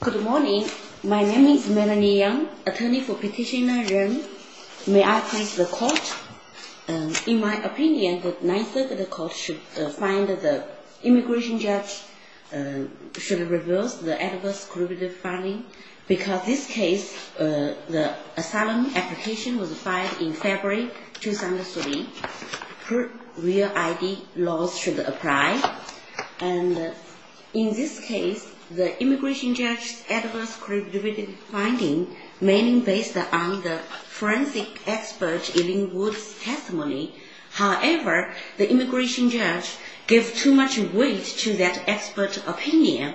Good morning. My name is Melanie Yang, attorney for petitioner Ren. May I please the court? In my opinion, the 9th Circuit Court should find the immigration judge should reverse the adverse criminal finding because this case, the asylum application was filed in February 2003. Real ID laws should apply. In this case, the immigration judge's adverse criminal finding mainly based on the forensic expert Eileen Wood's testimony. However, the immigration judge gave too much weight to that expert opinion.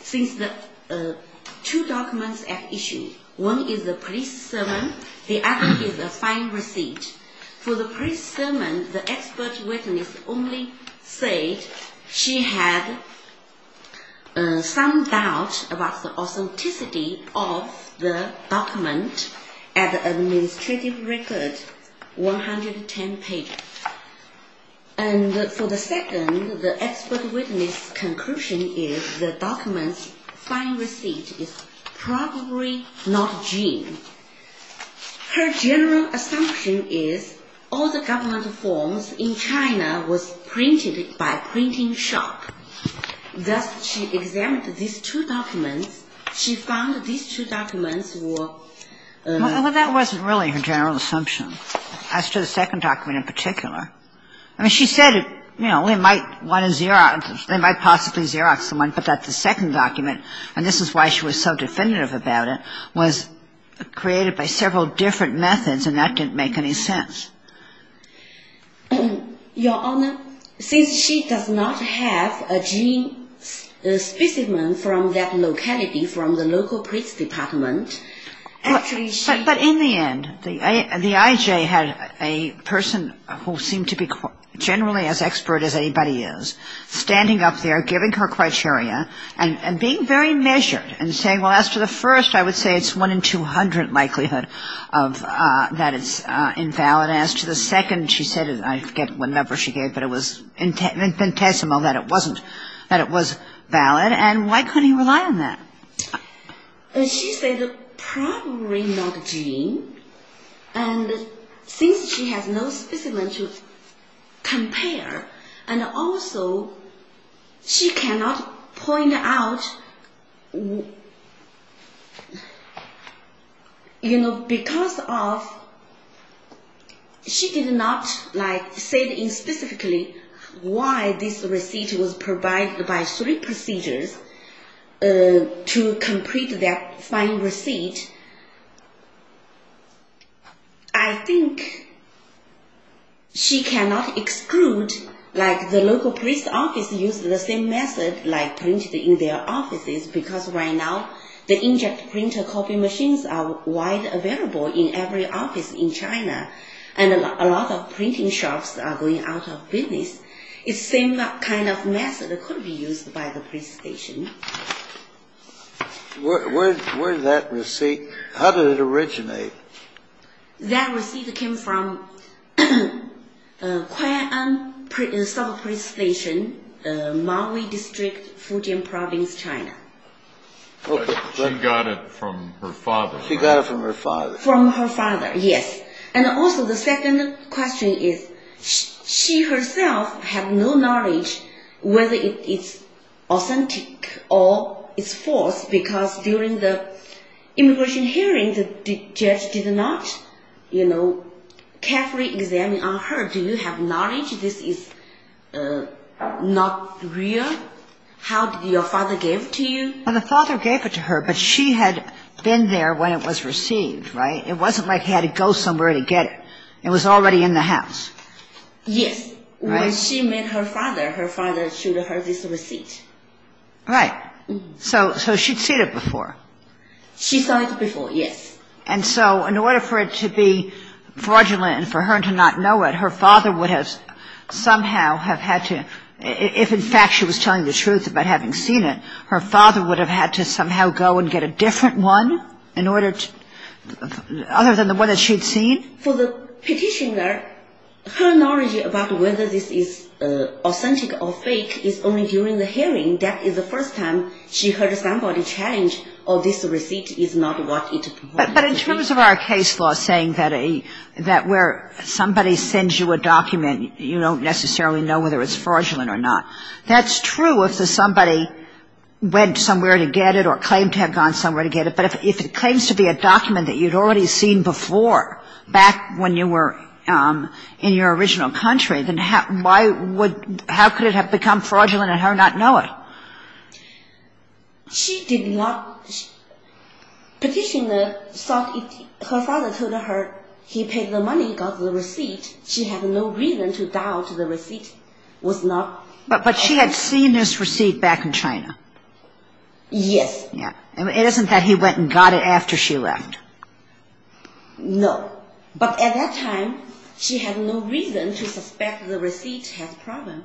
Since the two documents at issue, one is a police sermon, the other is a fine receipt. For the police sermon, the expert witness only said she had some doubt about the authenticity of the document at administrative record 110 pages. And for the second, the expert witness' conclusion is the document's fine receipt is probably not genuine. Her general assumption is all the government forms in China was printed by a printing shop. Thus, she examined these two documents. She found these two documents were ---- Well, that wasn't really her general assumption as to the second document in particular. I mean, she said, you know, we might want to Xerox them. They might possibly Xerox someone, but that's the second document. And this is why she was so definitive about it, was created by several different methods, and that didn't make any sense. Your Honor, since she does not have a gene specimen from that locality, from the local police department, actually she ---- But in the end, the IJ had a person who seemed to be generally as expert as anybody is, standing up there, giving her criteria, and being very measured, and saying, well, as to the first, I would say it's 1 in 200 likelihood that it's invalid. As to the second, she said, I forget what number she gave, but it was infinitesimal that it wasn't, that it was valid. And why couldn't he rely on that? She said probably not a gene, and since she has no specimen to compare, and also she cannot point out, you know, because of ---- She did not, like, say specifically why this receipt was provided by three procedures to complete that fine receipt. I think she cannot exclude, like, the local police office used the same method, like, printed in their offices, because right now the inject printer copy machines are wide available in every office in China, and a lot of printing shops are going out of business. It's the same kind of method that could be used by the police station. Where did that receipt, how did it originate? That receipt came from Kuai'an Subpolice Station, Maui District, Fujian Province, China. She got it from her father. She got it from her father. From her father, yes. And also the second question is, she herself had no knowledge whether it's authentic or it's false, because during the immigration hearing, the judge did not, you know, carefully examine on her, do you have knowledge this is not real? How did your father give it to you? The father gave it to her, but she had been there when it was received, right? It wasn't like he had to go somewhere to get it. It was already in the house. Yes. When she met her father, her father showed her this receipt. Right. So she'd seen it before. She saw it before, yes. And so in order for it to be fraudulent and for her to not know it, her father would have somehow have had to, if in fact she was telling the truth about having seen it, her father would have had to somehow go and get a different one, other than the one that she'd seen? For the petitioner, her knowledge about whether this is authentic or fake is only during the hearing. That is the first time she heard somebody challenge, oh, this receipt is not what it was. But in terms of our case law saying that where somebody sends you a document, you don't necessarily know whether it's fraudulent or not, that's true if somebody went somewhere to get it or claimed to have gone somewhere to get it, but if it claims to be a document that you'd already seen before, back when you were in your original country, then how could it have become fraudulent and her not know it? She did not. Petitioner thought her father told her he paid the money, got the receipt. She had no reason to doubt the receipt was not authentic. But she had seen this receipt back in China. Yes. It isn't that he went and got it after she left. No. But at that time, she had no reason to suspect the receipt had a problem.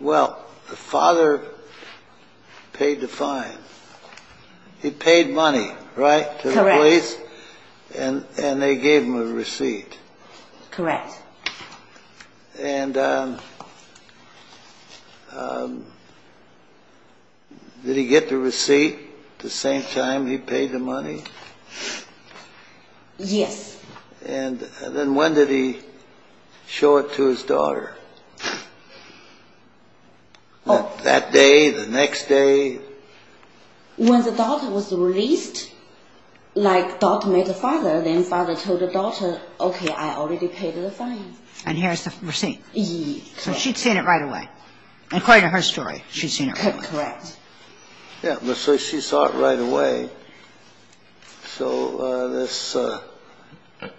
Well, the father paid the fine. He paid money, right? Correct. To the police, and they gave him a receipt. Correct. And did he get the receipt the same time he paid the money? Yes. And then when did he show it to his daughter? That day, the next day? When the daughter was released, like daughter met the father, then father told the daughter, okay, I already paid the fine. And here is the receipt. Correct. So she'd seen it right away. According to her story, she'd seen it right away. Correct. Yeah, so she saw it right away. So this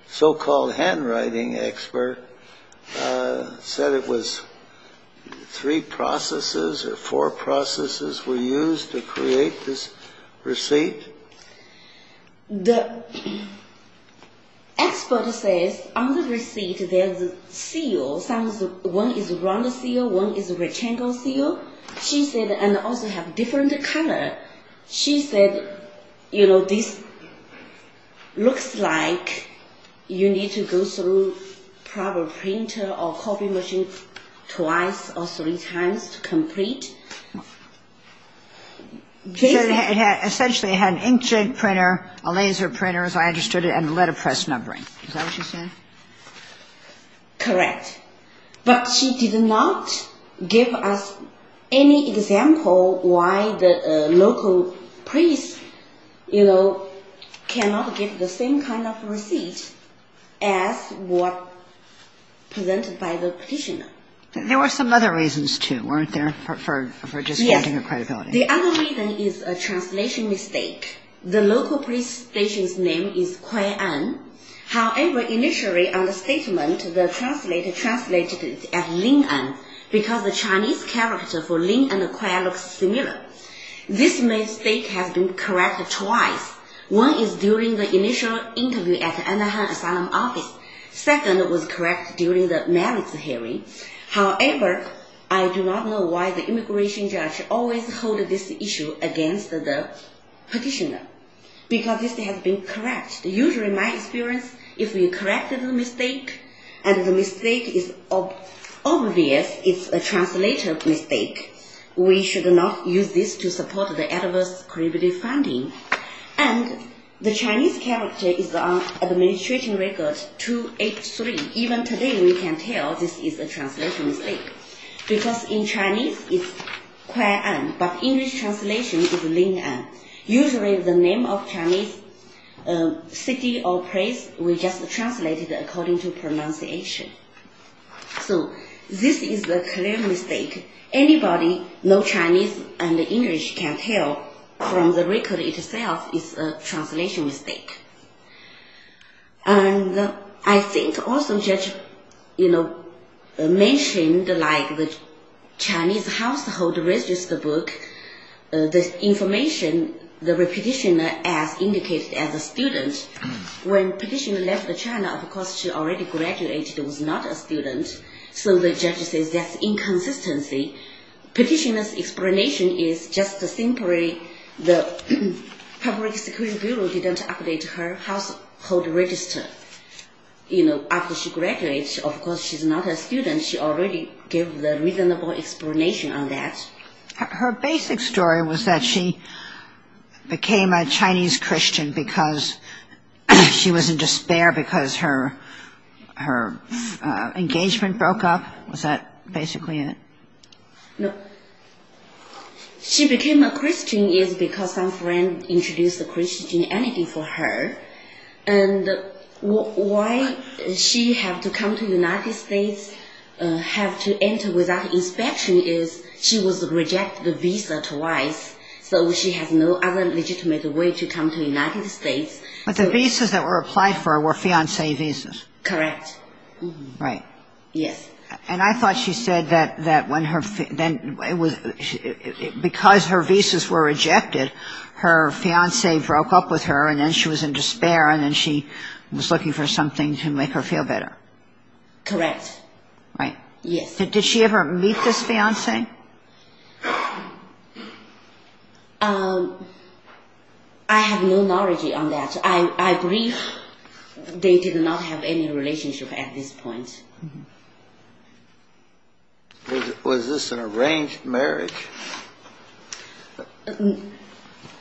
so-called handwriting expert said it was three processes or four processes were used to create this receipt. The expert says on the receipt there's a seal. One is a round seal, one is a rectangle seal, and also have different color. She said, you know, this looks like you need to go through proper printer or copy machine twice or three times to complete. She said it essentially had an inkjet printer, a laser printer, as I understood it, and a letterpress numbering. Is that what she said? Correct. But she did not give us any example why the local police, you know, cannot get the same kind of receipt as what presented by the petitioner. There were some other reasons, too, weren't there, for just finding the credibility? Yes. The other reason is a translation mistake. The local police station's name is Kui'an. However, initially on the statement, the translator translated it as Lin'an because the Chinese character for Lin'an and Kui'an look similar. This mistake has been corrected twice. One is during the initial interview at Anaheim Asylum office. Second was corrected during the merits hearing. However, I do not know why the immigration judge always holds this issue against the petitioner because this has been corrected. Usually, in my experience, if you corrected the mistake and the mistake is obvious, it's a translator mistake, we should not use this to support the adverse credibility finding. And the Chinese character is on administration record 283. Even today, we can tell this is a translation mistake because in Chinese, it's Kui'an, but English translation is Lin'an. Usually, the name of Chinese city or place, we just translate it according to pronunciation. So, this is a clear mistake. Anybody know Chinese and English can tell from the record itself it's a translation mistake. And I think also the judge mentioned the Chinese household register book, the information, the petitioner as indicated as a student. When the petitioner left China, of course, she already graduated and was not a student. So the judge says that's inconsistency. Petitioner's explanation is just simply the Public Security Bureau didn't update her household register. You know, after she graduated, of course, she's not a student. She already gave the reasonable explanation on that. Her basic story was that she became a Chinese Christian because she was in despair because her engagement broke up. Was that basically it? No. She became a Christian because some friend introduced Christianity for her. And why she had to come to the United States, had to enter without inspection, is she was rejected the visa twice. So she has no other legitimate way to come to the United States. But the visas that were applied for were fiancé visas. Correct. Right. Yes. And I thought she said that because her visas were rejected, her fiancé broke up with her and then she was in despair and then she was looking for something to make her feel better. Correct. Right. Yes. Did she ever meet this fiancé? I have no knowledge on that. I believe they did not have any relationship at this point. Was this an arranged marriage?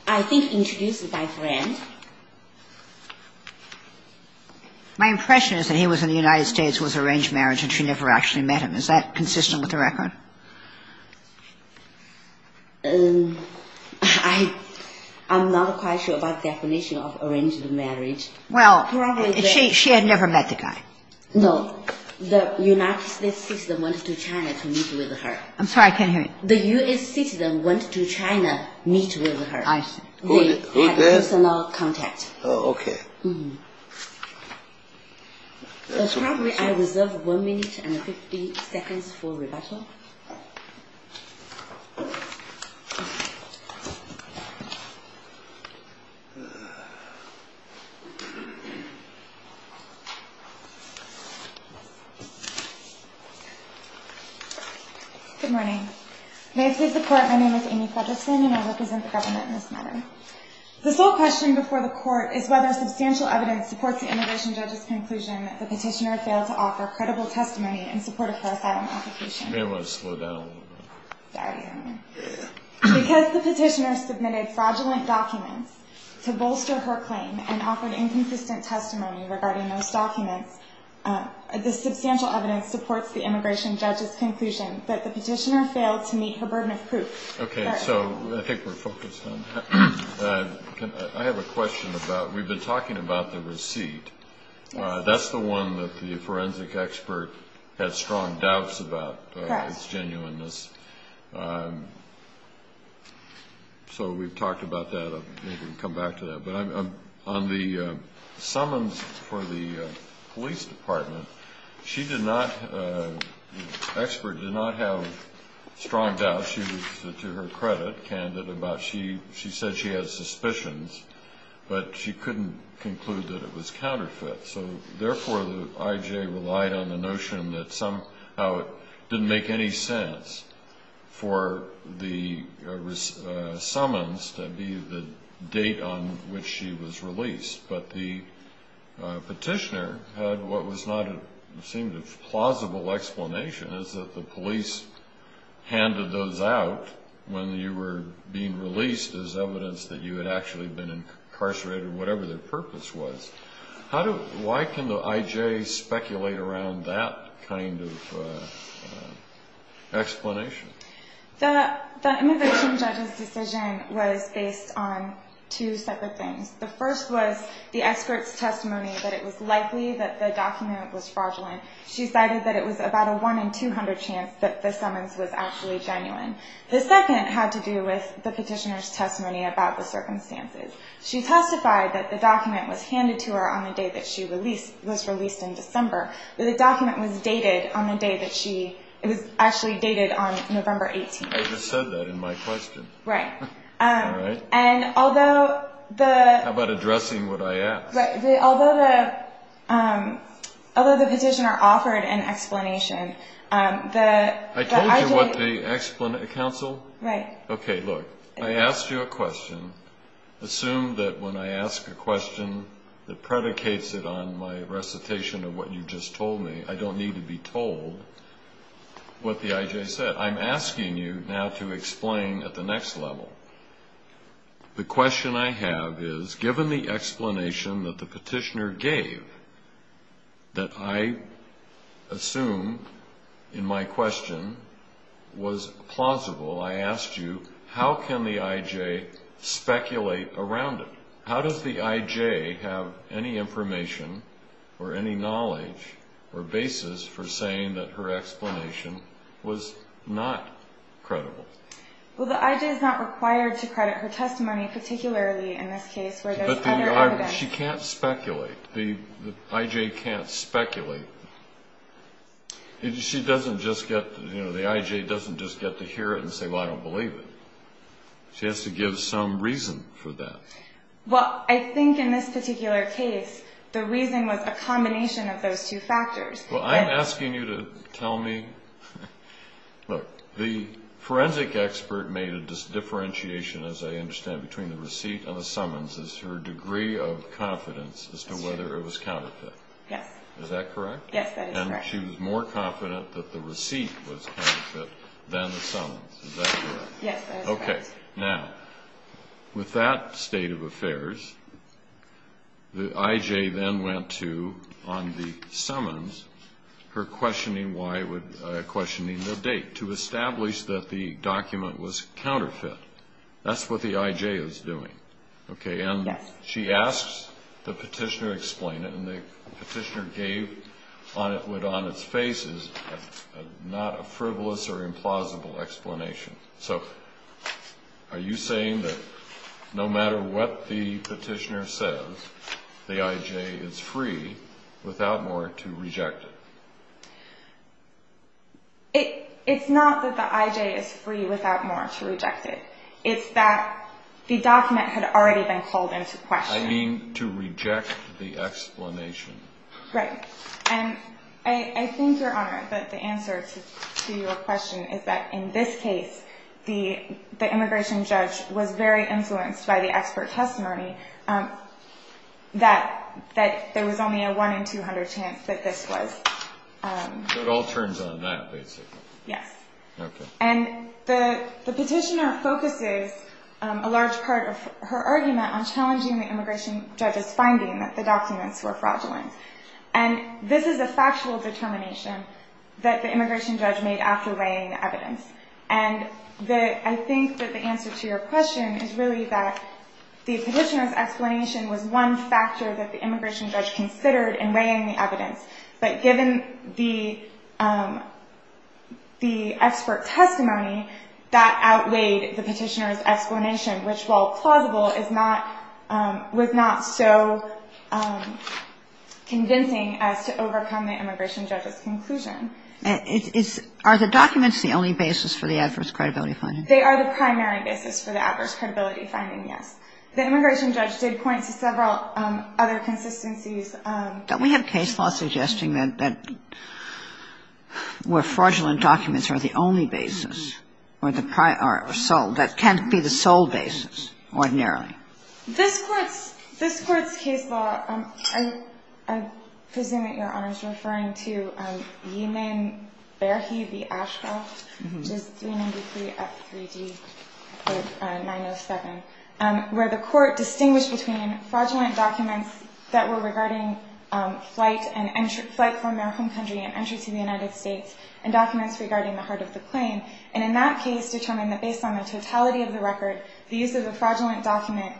I think introduced by friend. My impression is that he was in the United States, was arranged marriage, and she never actually met him. Is that consistent with the record? I'm not quite sure about the definition of arranged marriage. Well, she had never met the guy. No. The United States citizen went to China to meet with her. I'm sorry, I can't hear you. The U.S. citizen went to China to meet with her. I see. Who did? Personal contact. Oh, okay. Probably I reserve one minute and 50 seconds for rebuttal. Good morning. May it please the Court, my name is Amy Fettersen and I represent the government in this matter. The sole question before the Court is whether substantial evidence supports the immigration judge's conclusion that the petitioner failed to offer credible testimony in support of her asylum application. You may want to slow down a little bit. Sorry. Because the petitioner submitted fraudulent documents to bolster her claim and offered inconsistent testimony regarding those documents, the substantial evidence supports the immigration judge's conclusion that the petitioner failed to meet her burden of proof. Okay, so I think we're focused on that. I have a question about, we've been talking about the receipt. That's the one that the forensic expert had strong doubts about, its genuineness. So we've talked about that, maybe we can come back to that. But on the summons for the police department, the expert did not have strong doubts. To her credit, she said she had suspicions, but she couldn't conclude that it was counterfeit. So therefore the IJ relied on the notion that somehow it didn't make any sense for the summons to be the date on which she was released. But the petitioner had what seemed a plausible explanation, is that the police handed those out when you were being released as evidence that you had actually been incarcerated, whatever their purpose was. Why can the IJ speculate around that kind of explanation? The immigration judge's decision was based on two separate things. The first was the expert's testimony that it was likely that the document was fraudulent. She cited that it was about a 1 in 200 chance that the summons was actually genuine. The second had to do with the petitioner's testimony about the circumstances. She testified that the document was handed to her on the day that she was released in December, but the document was actually dated on November 18th. I just said that in my question. Right. How about addressing what I asked? Although the petitioner offered an explanation, the IJ... I told you what the explanation... Counsel? Right. Okay, look, I asked you a question. Assume that when I ask a question that predicates it on my recitation of what you just told me, I don't need to be told what the IJ said. I'm asking you now to explain at the next level. The question I have is, given the explanation that the petitioner gave, that I assume in my question was plausible, I asked you, how can the IJ speculate around it? How does the IJ have any information or any knowledge or basis for saying that her explanation was not credible? Well, the IJ is not required to credit her testimony, particularly in this case where there's other evidence. But she can't speculate. The IJ can't speculate. She doesn't just get... The IJ doesn't just get to hear it and say, well, I don't believe it. She has to give some reason for that. Well, I think in this particular case, the reason was a combination of those two factors. Well, I'm asking you to tell me... Look, the forensic expert made a differentiation, as I understand, between the receipt and the summons as her degree of confidence as to whether it was counterfeit. Yes. Is that correct? Yes, that is correct. And she was more confident that the receipt was counterfeit than the summons. Is that correct? Yes, that is correct. Okay. Now, with that state of affairs, the IJ then went to, on the summons, her questioning the date to establish that the document was counterfeit. That's what the IJ is doing. Okay, and she asks the petitioner to explain it, and the petitioner gave what, on its face, is not a frivolous or implausible explanation. So are you saying that no matter what the petitioner says, the IJ is free without more to reject it? It's not that the IJ is free without more to reject it. It's that the document had already been called into question. I mean to reject the explanation. Right. And I think, Your Honor, that the answer to your question is that, in this case, the immigration judge was very influenced by the expert testimony that there was only a 1 in 200 chance that this was. So it all turns on that, basically. Yes. Okay. And the petitioner focuses a large part of her argument on challenging the immigration judge's finding that the documents were fraudulent. And this is a factual determination that the immigration judge made after weighing the evidence. And I think that the answer to your question is really that the petitioner's explanation was one factor that the immigration judge considered in weighing the evidence. But given the expert testimony, that outweighed the petitioner's explanation, which, while plausible, was not so convincing as to overcome the immigration judge's conclusion. Are the documents the only basis for the adverse credibility finding? They are the primary basis for the adverse credibility finding, yes. The immigration judge did point to several other consistencies. Don't we have case law suggesting that where fraudulent documents are the only basis, or the sole, that can't be the sole basis ordinarily? This Court's case law, I presume that Your Honor is referring to Yeeman Berhe v. Ashcroft, which is 393F3D, Part 907, where the Court distinguished between fraudulent documents that were regarding flight from their home country and entry to the United States and documents regarding the heart of the claim. And in that case determined that based on the totality of the record, the use of the fraudulent document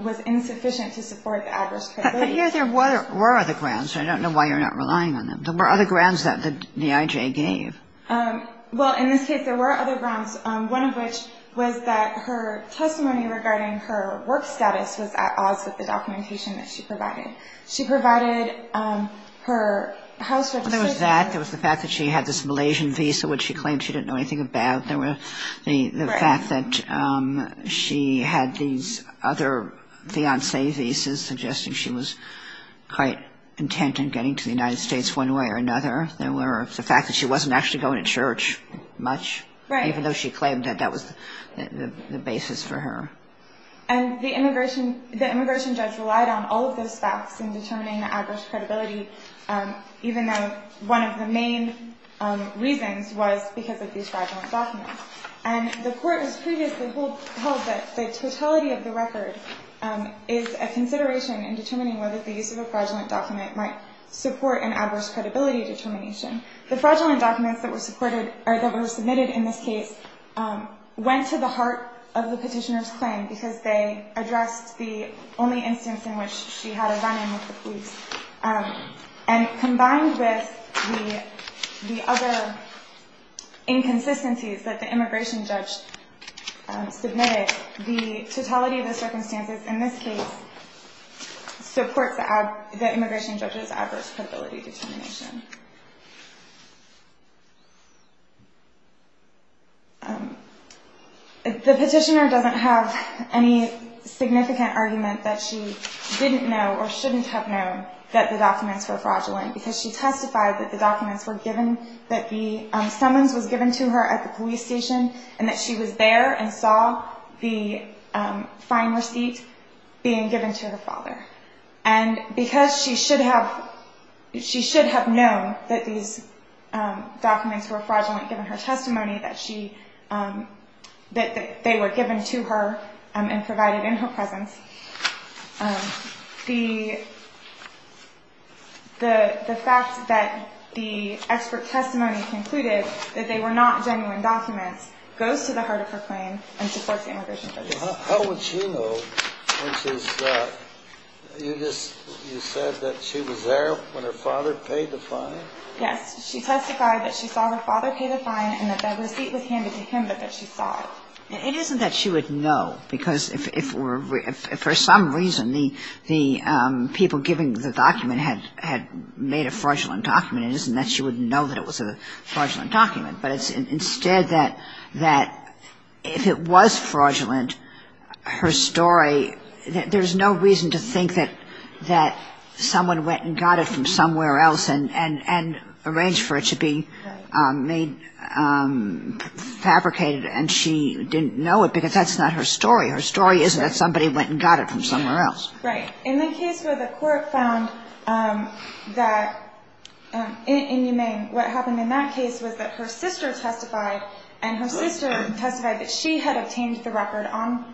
was insufficient to support the adverse credibility. But here there were other grounds. I don't know why you're not relying on them. There were other grounds that the I.J. gave. Well, in this case there were other grounds, one of which was that her testimony regarding her work status was at odds with the documentation that she provided. She provided her house registration. Well, there was that. There was the fact that she had this Malaysian visa, which she claimed she didn't know anything about. There was the fact that she had these other fiancé visas, suggesting she was quite intent on getting to the United States one way or another. There were the fact that she wasn't actually going to church much, even though she claimed that that was the basis for her. And the immigration judge relied on all of those facts in determining the adverse credibility, even though one of the main reasons was because of these fraudulent documents. And the Court has previously held that the totality of the record is a consideration in determining whether the use of a fraudulent document might support an adverse credibility determination. The fraudulent documents that were submitted in this case went to the heart of the petitioner's claim because they addressed the only instance in which she had a run-in with the police. And combined with the other inconsistencies that the immigration judge submitted, the totality of the circumstances in this case supports the immigration judge's adverse credibility determination. The petitioner doesn't have any significant argument that she didn't know or shouldn't have known that the documents were fraudulent because she testified that the summons were given to her at the police station and that she was there and saw the fine receipt being given to her father. And because she should have known that these documents were fraudulent given her testimony, that they were given to her and provided in her presence, the fact that the expert testimony concluded that they were not genuine documents goes to the heart of her claim and supports the immigration judge. How would she know when she was there? You said that she was there when her father paid the fine? Yes. She testified that she saw her father pay the fine and that the receipt was handed to him, but that she saw it. It isn't that she would know, because if for some reason the people giving the document had made a fraudulent document, it isn't that she wouldn't know that it was a fraudulent document, but it's instead that if it was fraudulent, her story – there's no reason to think that someone went and got it from somewhere else and arranged for it to be fabricated and she didn't know it, because that's not her story. Her story is that somebody went and got it from somewhere else. Right. In the case where the court found that inhumane, what happened in that case was that her sister testified, and her sister testified that she had obtained the record on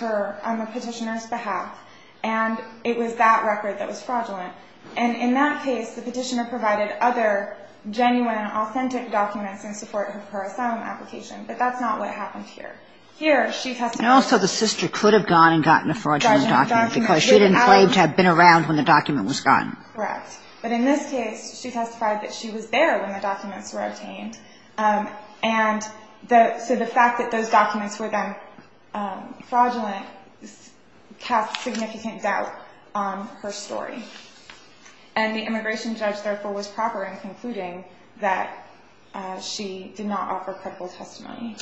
the petitioner's behalf, and it was that record that was fraudulent. And in that case, the petitioner provided other genuine, authentic documents in support of her asylum application, but that's not what happened here. And also, the sister could have gone and gotten a fraudulent document, because she didn't claim to have been around when the document was gotten. Correct. But in this case, she testified that she was there when the documents were obtained, and so the fact that those documents were then fraudulent casts significant doubt on her story. And the immigration judge, therefore, was proper in concluding that she did not offer credible testimony.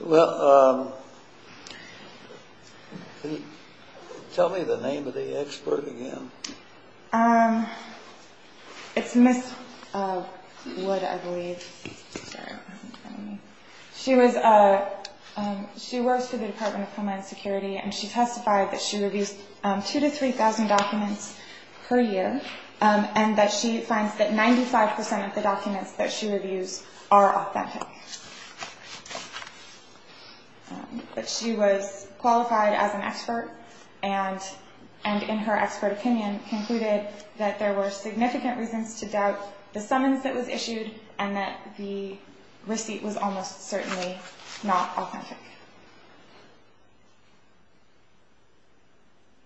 Well, tell me the name of the expert again. It's Ms. Wood, I believe. She works for the Department of Homeland Security, and she testified that she reviews 2,000 to 3,000 documents per year, and that she finds that 95% of the documents that she reviews are authentic. But she was qualified as an expert, and in her expert opinion, concluded that there were significant reasons to doubt the summons that was issued, and that the receipt was almost certainly not authentic.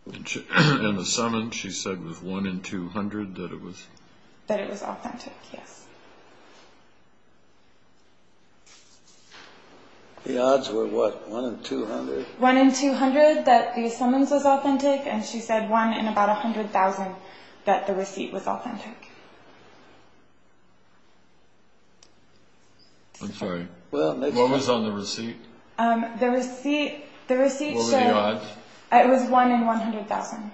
And the summons she said was 1 in 200 that it was? That it was authentic, yes. The odds were what, 1 in 200? 1 in 200 that the summons was authentic, and she said 1 in about 100,000 that the receipt was authentic. I'm sorry, what was on the receipt? The receipt said... What were the odds? It was 1 in 100,000.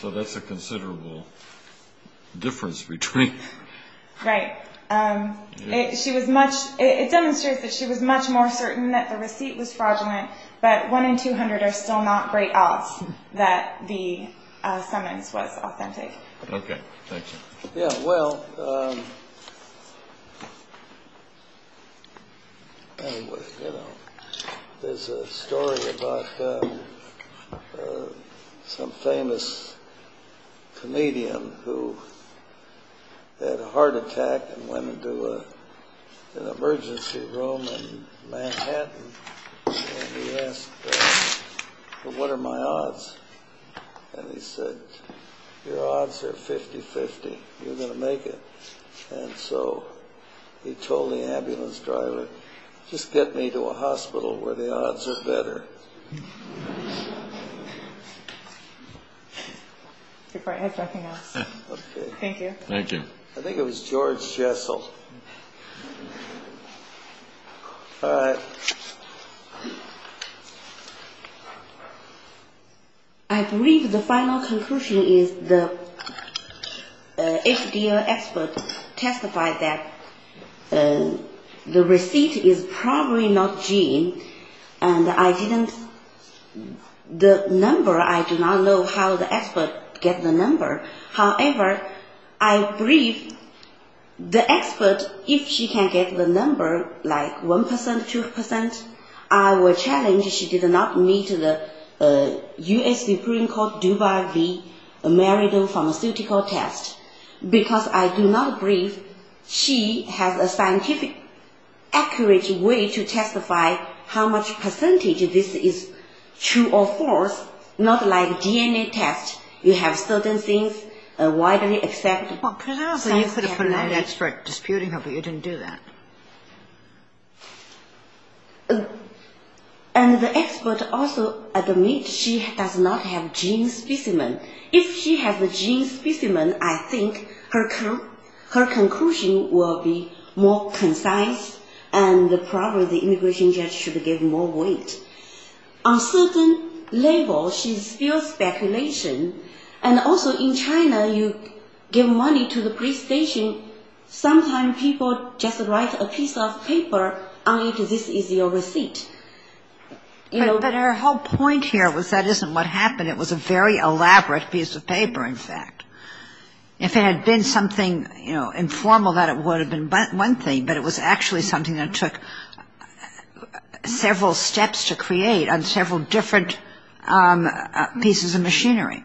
So that's a considerable difference between... Right. It demonstrates that she was much more certain that the receipt was fraudulent, but 1 in 200 are still not great odds that the summons was authentic. Okay, thank you. Yeah, well... There's a story about some famous comedian who had a heart attack and went into an emergency room in Manhattan, and he asked, well, what are my odds? And he said, your odds are 50-50. You're going to make it. And so he told the ambulance driver, just get me to a hospital where the odds are better. If I had nothing else. Thank you. Thank you. I think it was George Jessel. All right. I believe the final conclusion is the FDA expert testified that the receipt is probably not gene, and I didn't... The number, I do not know how the expert get the number. However, I believe the expert, if she can get the number, like 1%, 2%, I will challenge she did not meet the US Supreme Court Dubai v. Meriden pharmaceutical test. Because I do not believe she has a scientific, accurate way to testify how much percentage this is true or false, not like DNA test. You have certain things widely accepted. Well, perhaps you could have put an expert disputing her, but you didn't do that. And the expert also admits she does not have gene specimen. If she has a gene specimen, I think her conclusion will be more concise and probably the immigration judge should give more weight. On certain level, she spews speculation. And also in China, you give money to the police station, sometimes people just write a piece of paper, and this is your receipt. But her whole point here was that isn't what happened. It was a very elaborate piece of paper, in fact. If it had been something informal, that would have been one thing, but it was actually something that took several steps to create on several different pieces of machinery.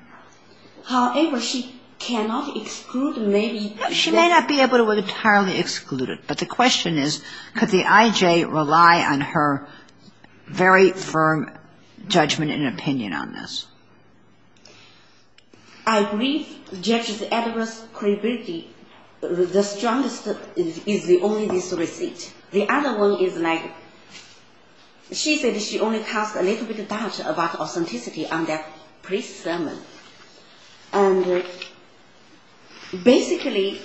She may not be able to entirely exclude it, but the question is could the IJ rely on her very firm judgment and opinion on this. I agree judge's adverse credibility. The strongest is only this receipt. The other one is like she said she only cast a little bit of doubt about authenticity on that police sermon. And basically,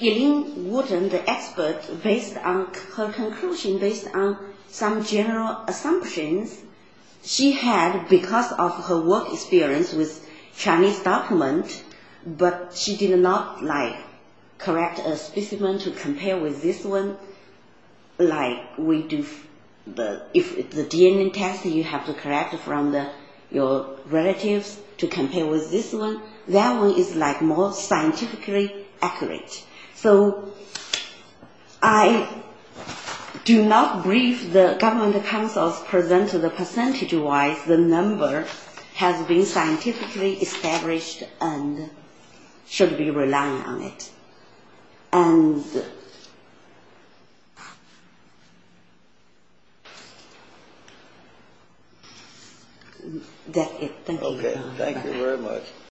Elaine Wooden, the expert, based on her conclusion, based on some general assumptions, she had, because of her work experience with Chinese documents, but she did not correct a specimen to compare with this one. Like if the DNA test you have to correct from your relatives to compare with this one, that one is more scientifically accurate. So I do not believe the government counsels presented the percentage-wise the number has been scientifically established and should be relying on it. And that's it. Thank you. Okay. Thank you very much.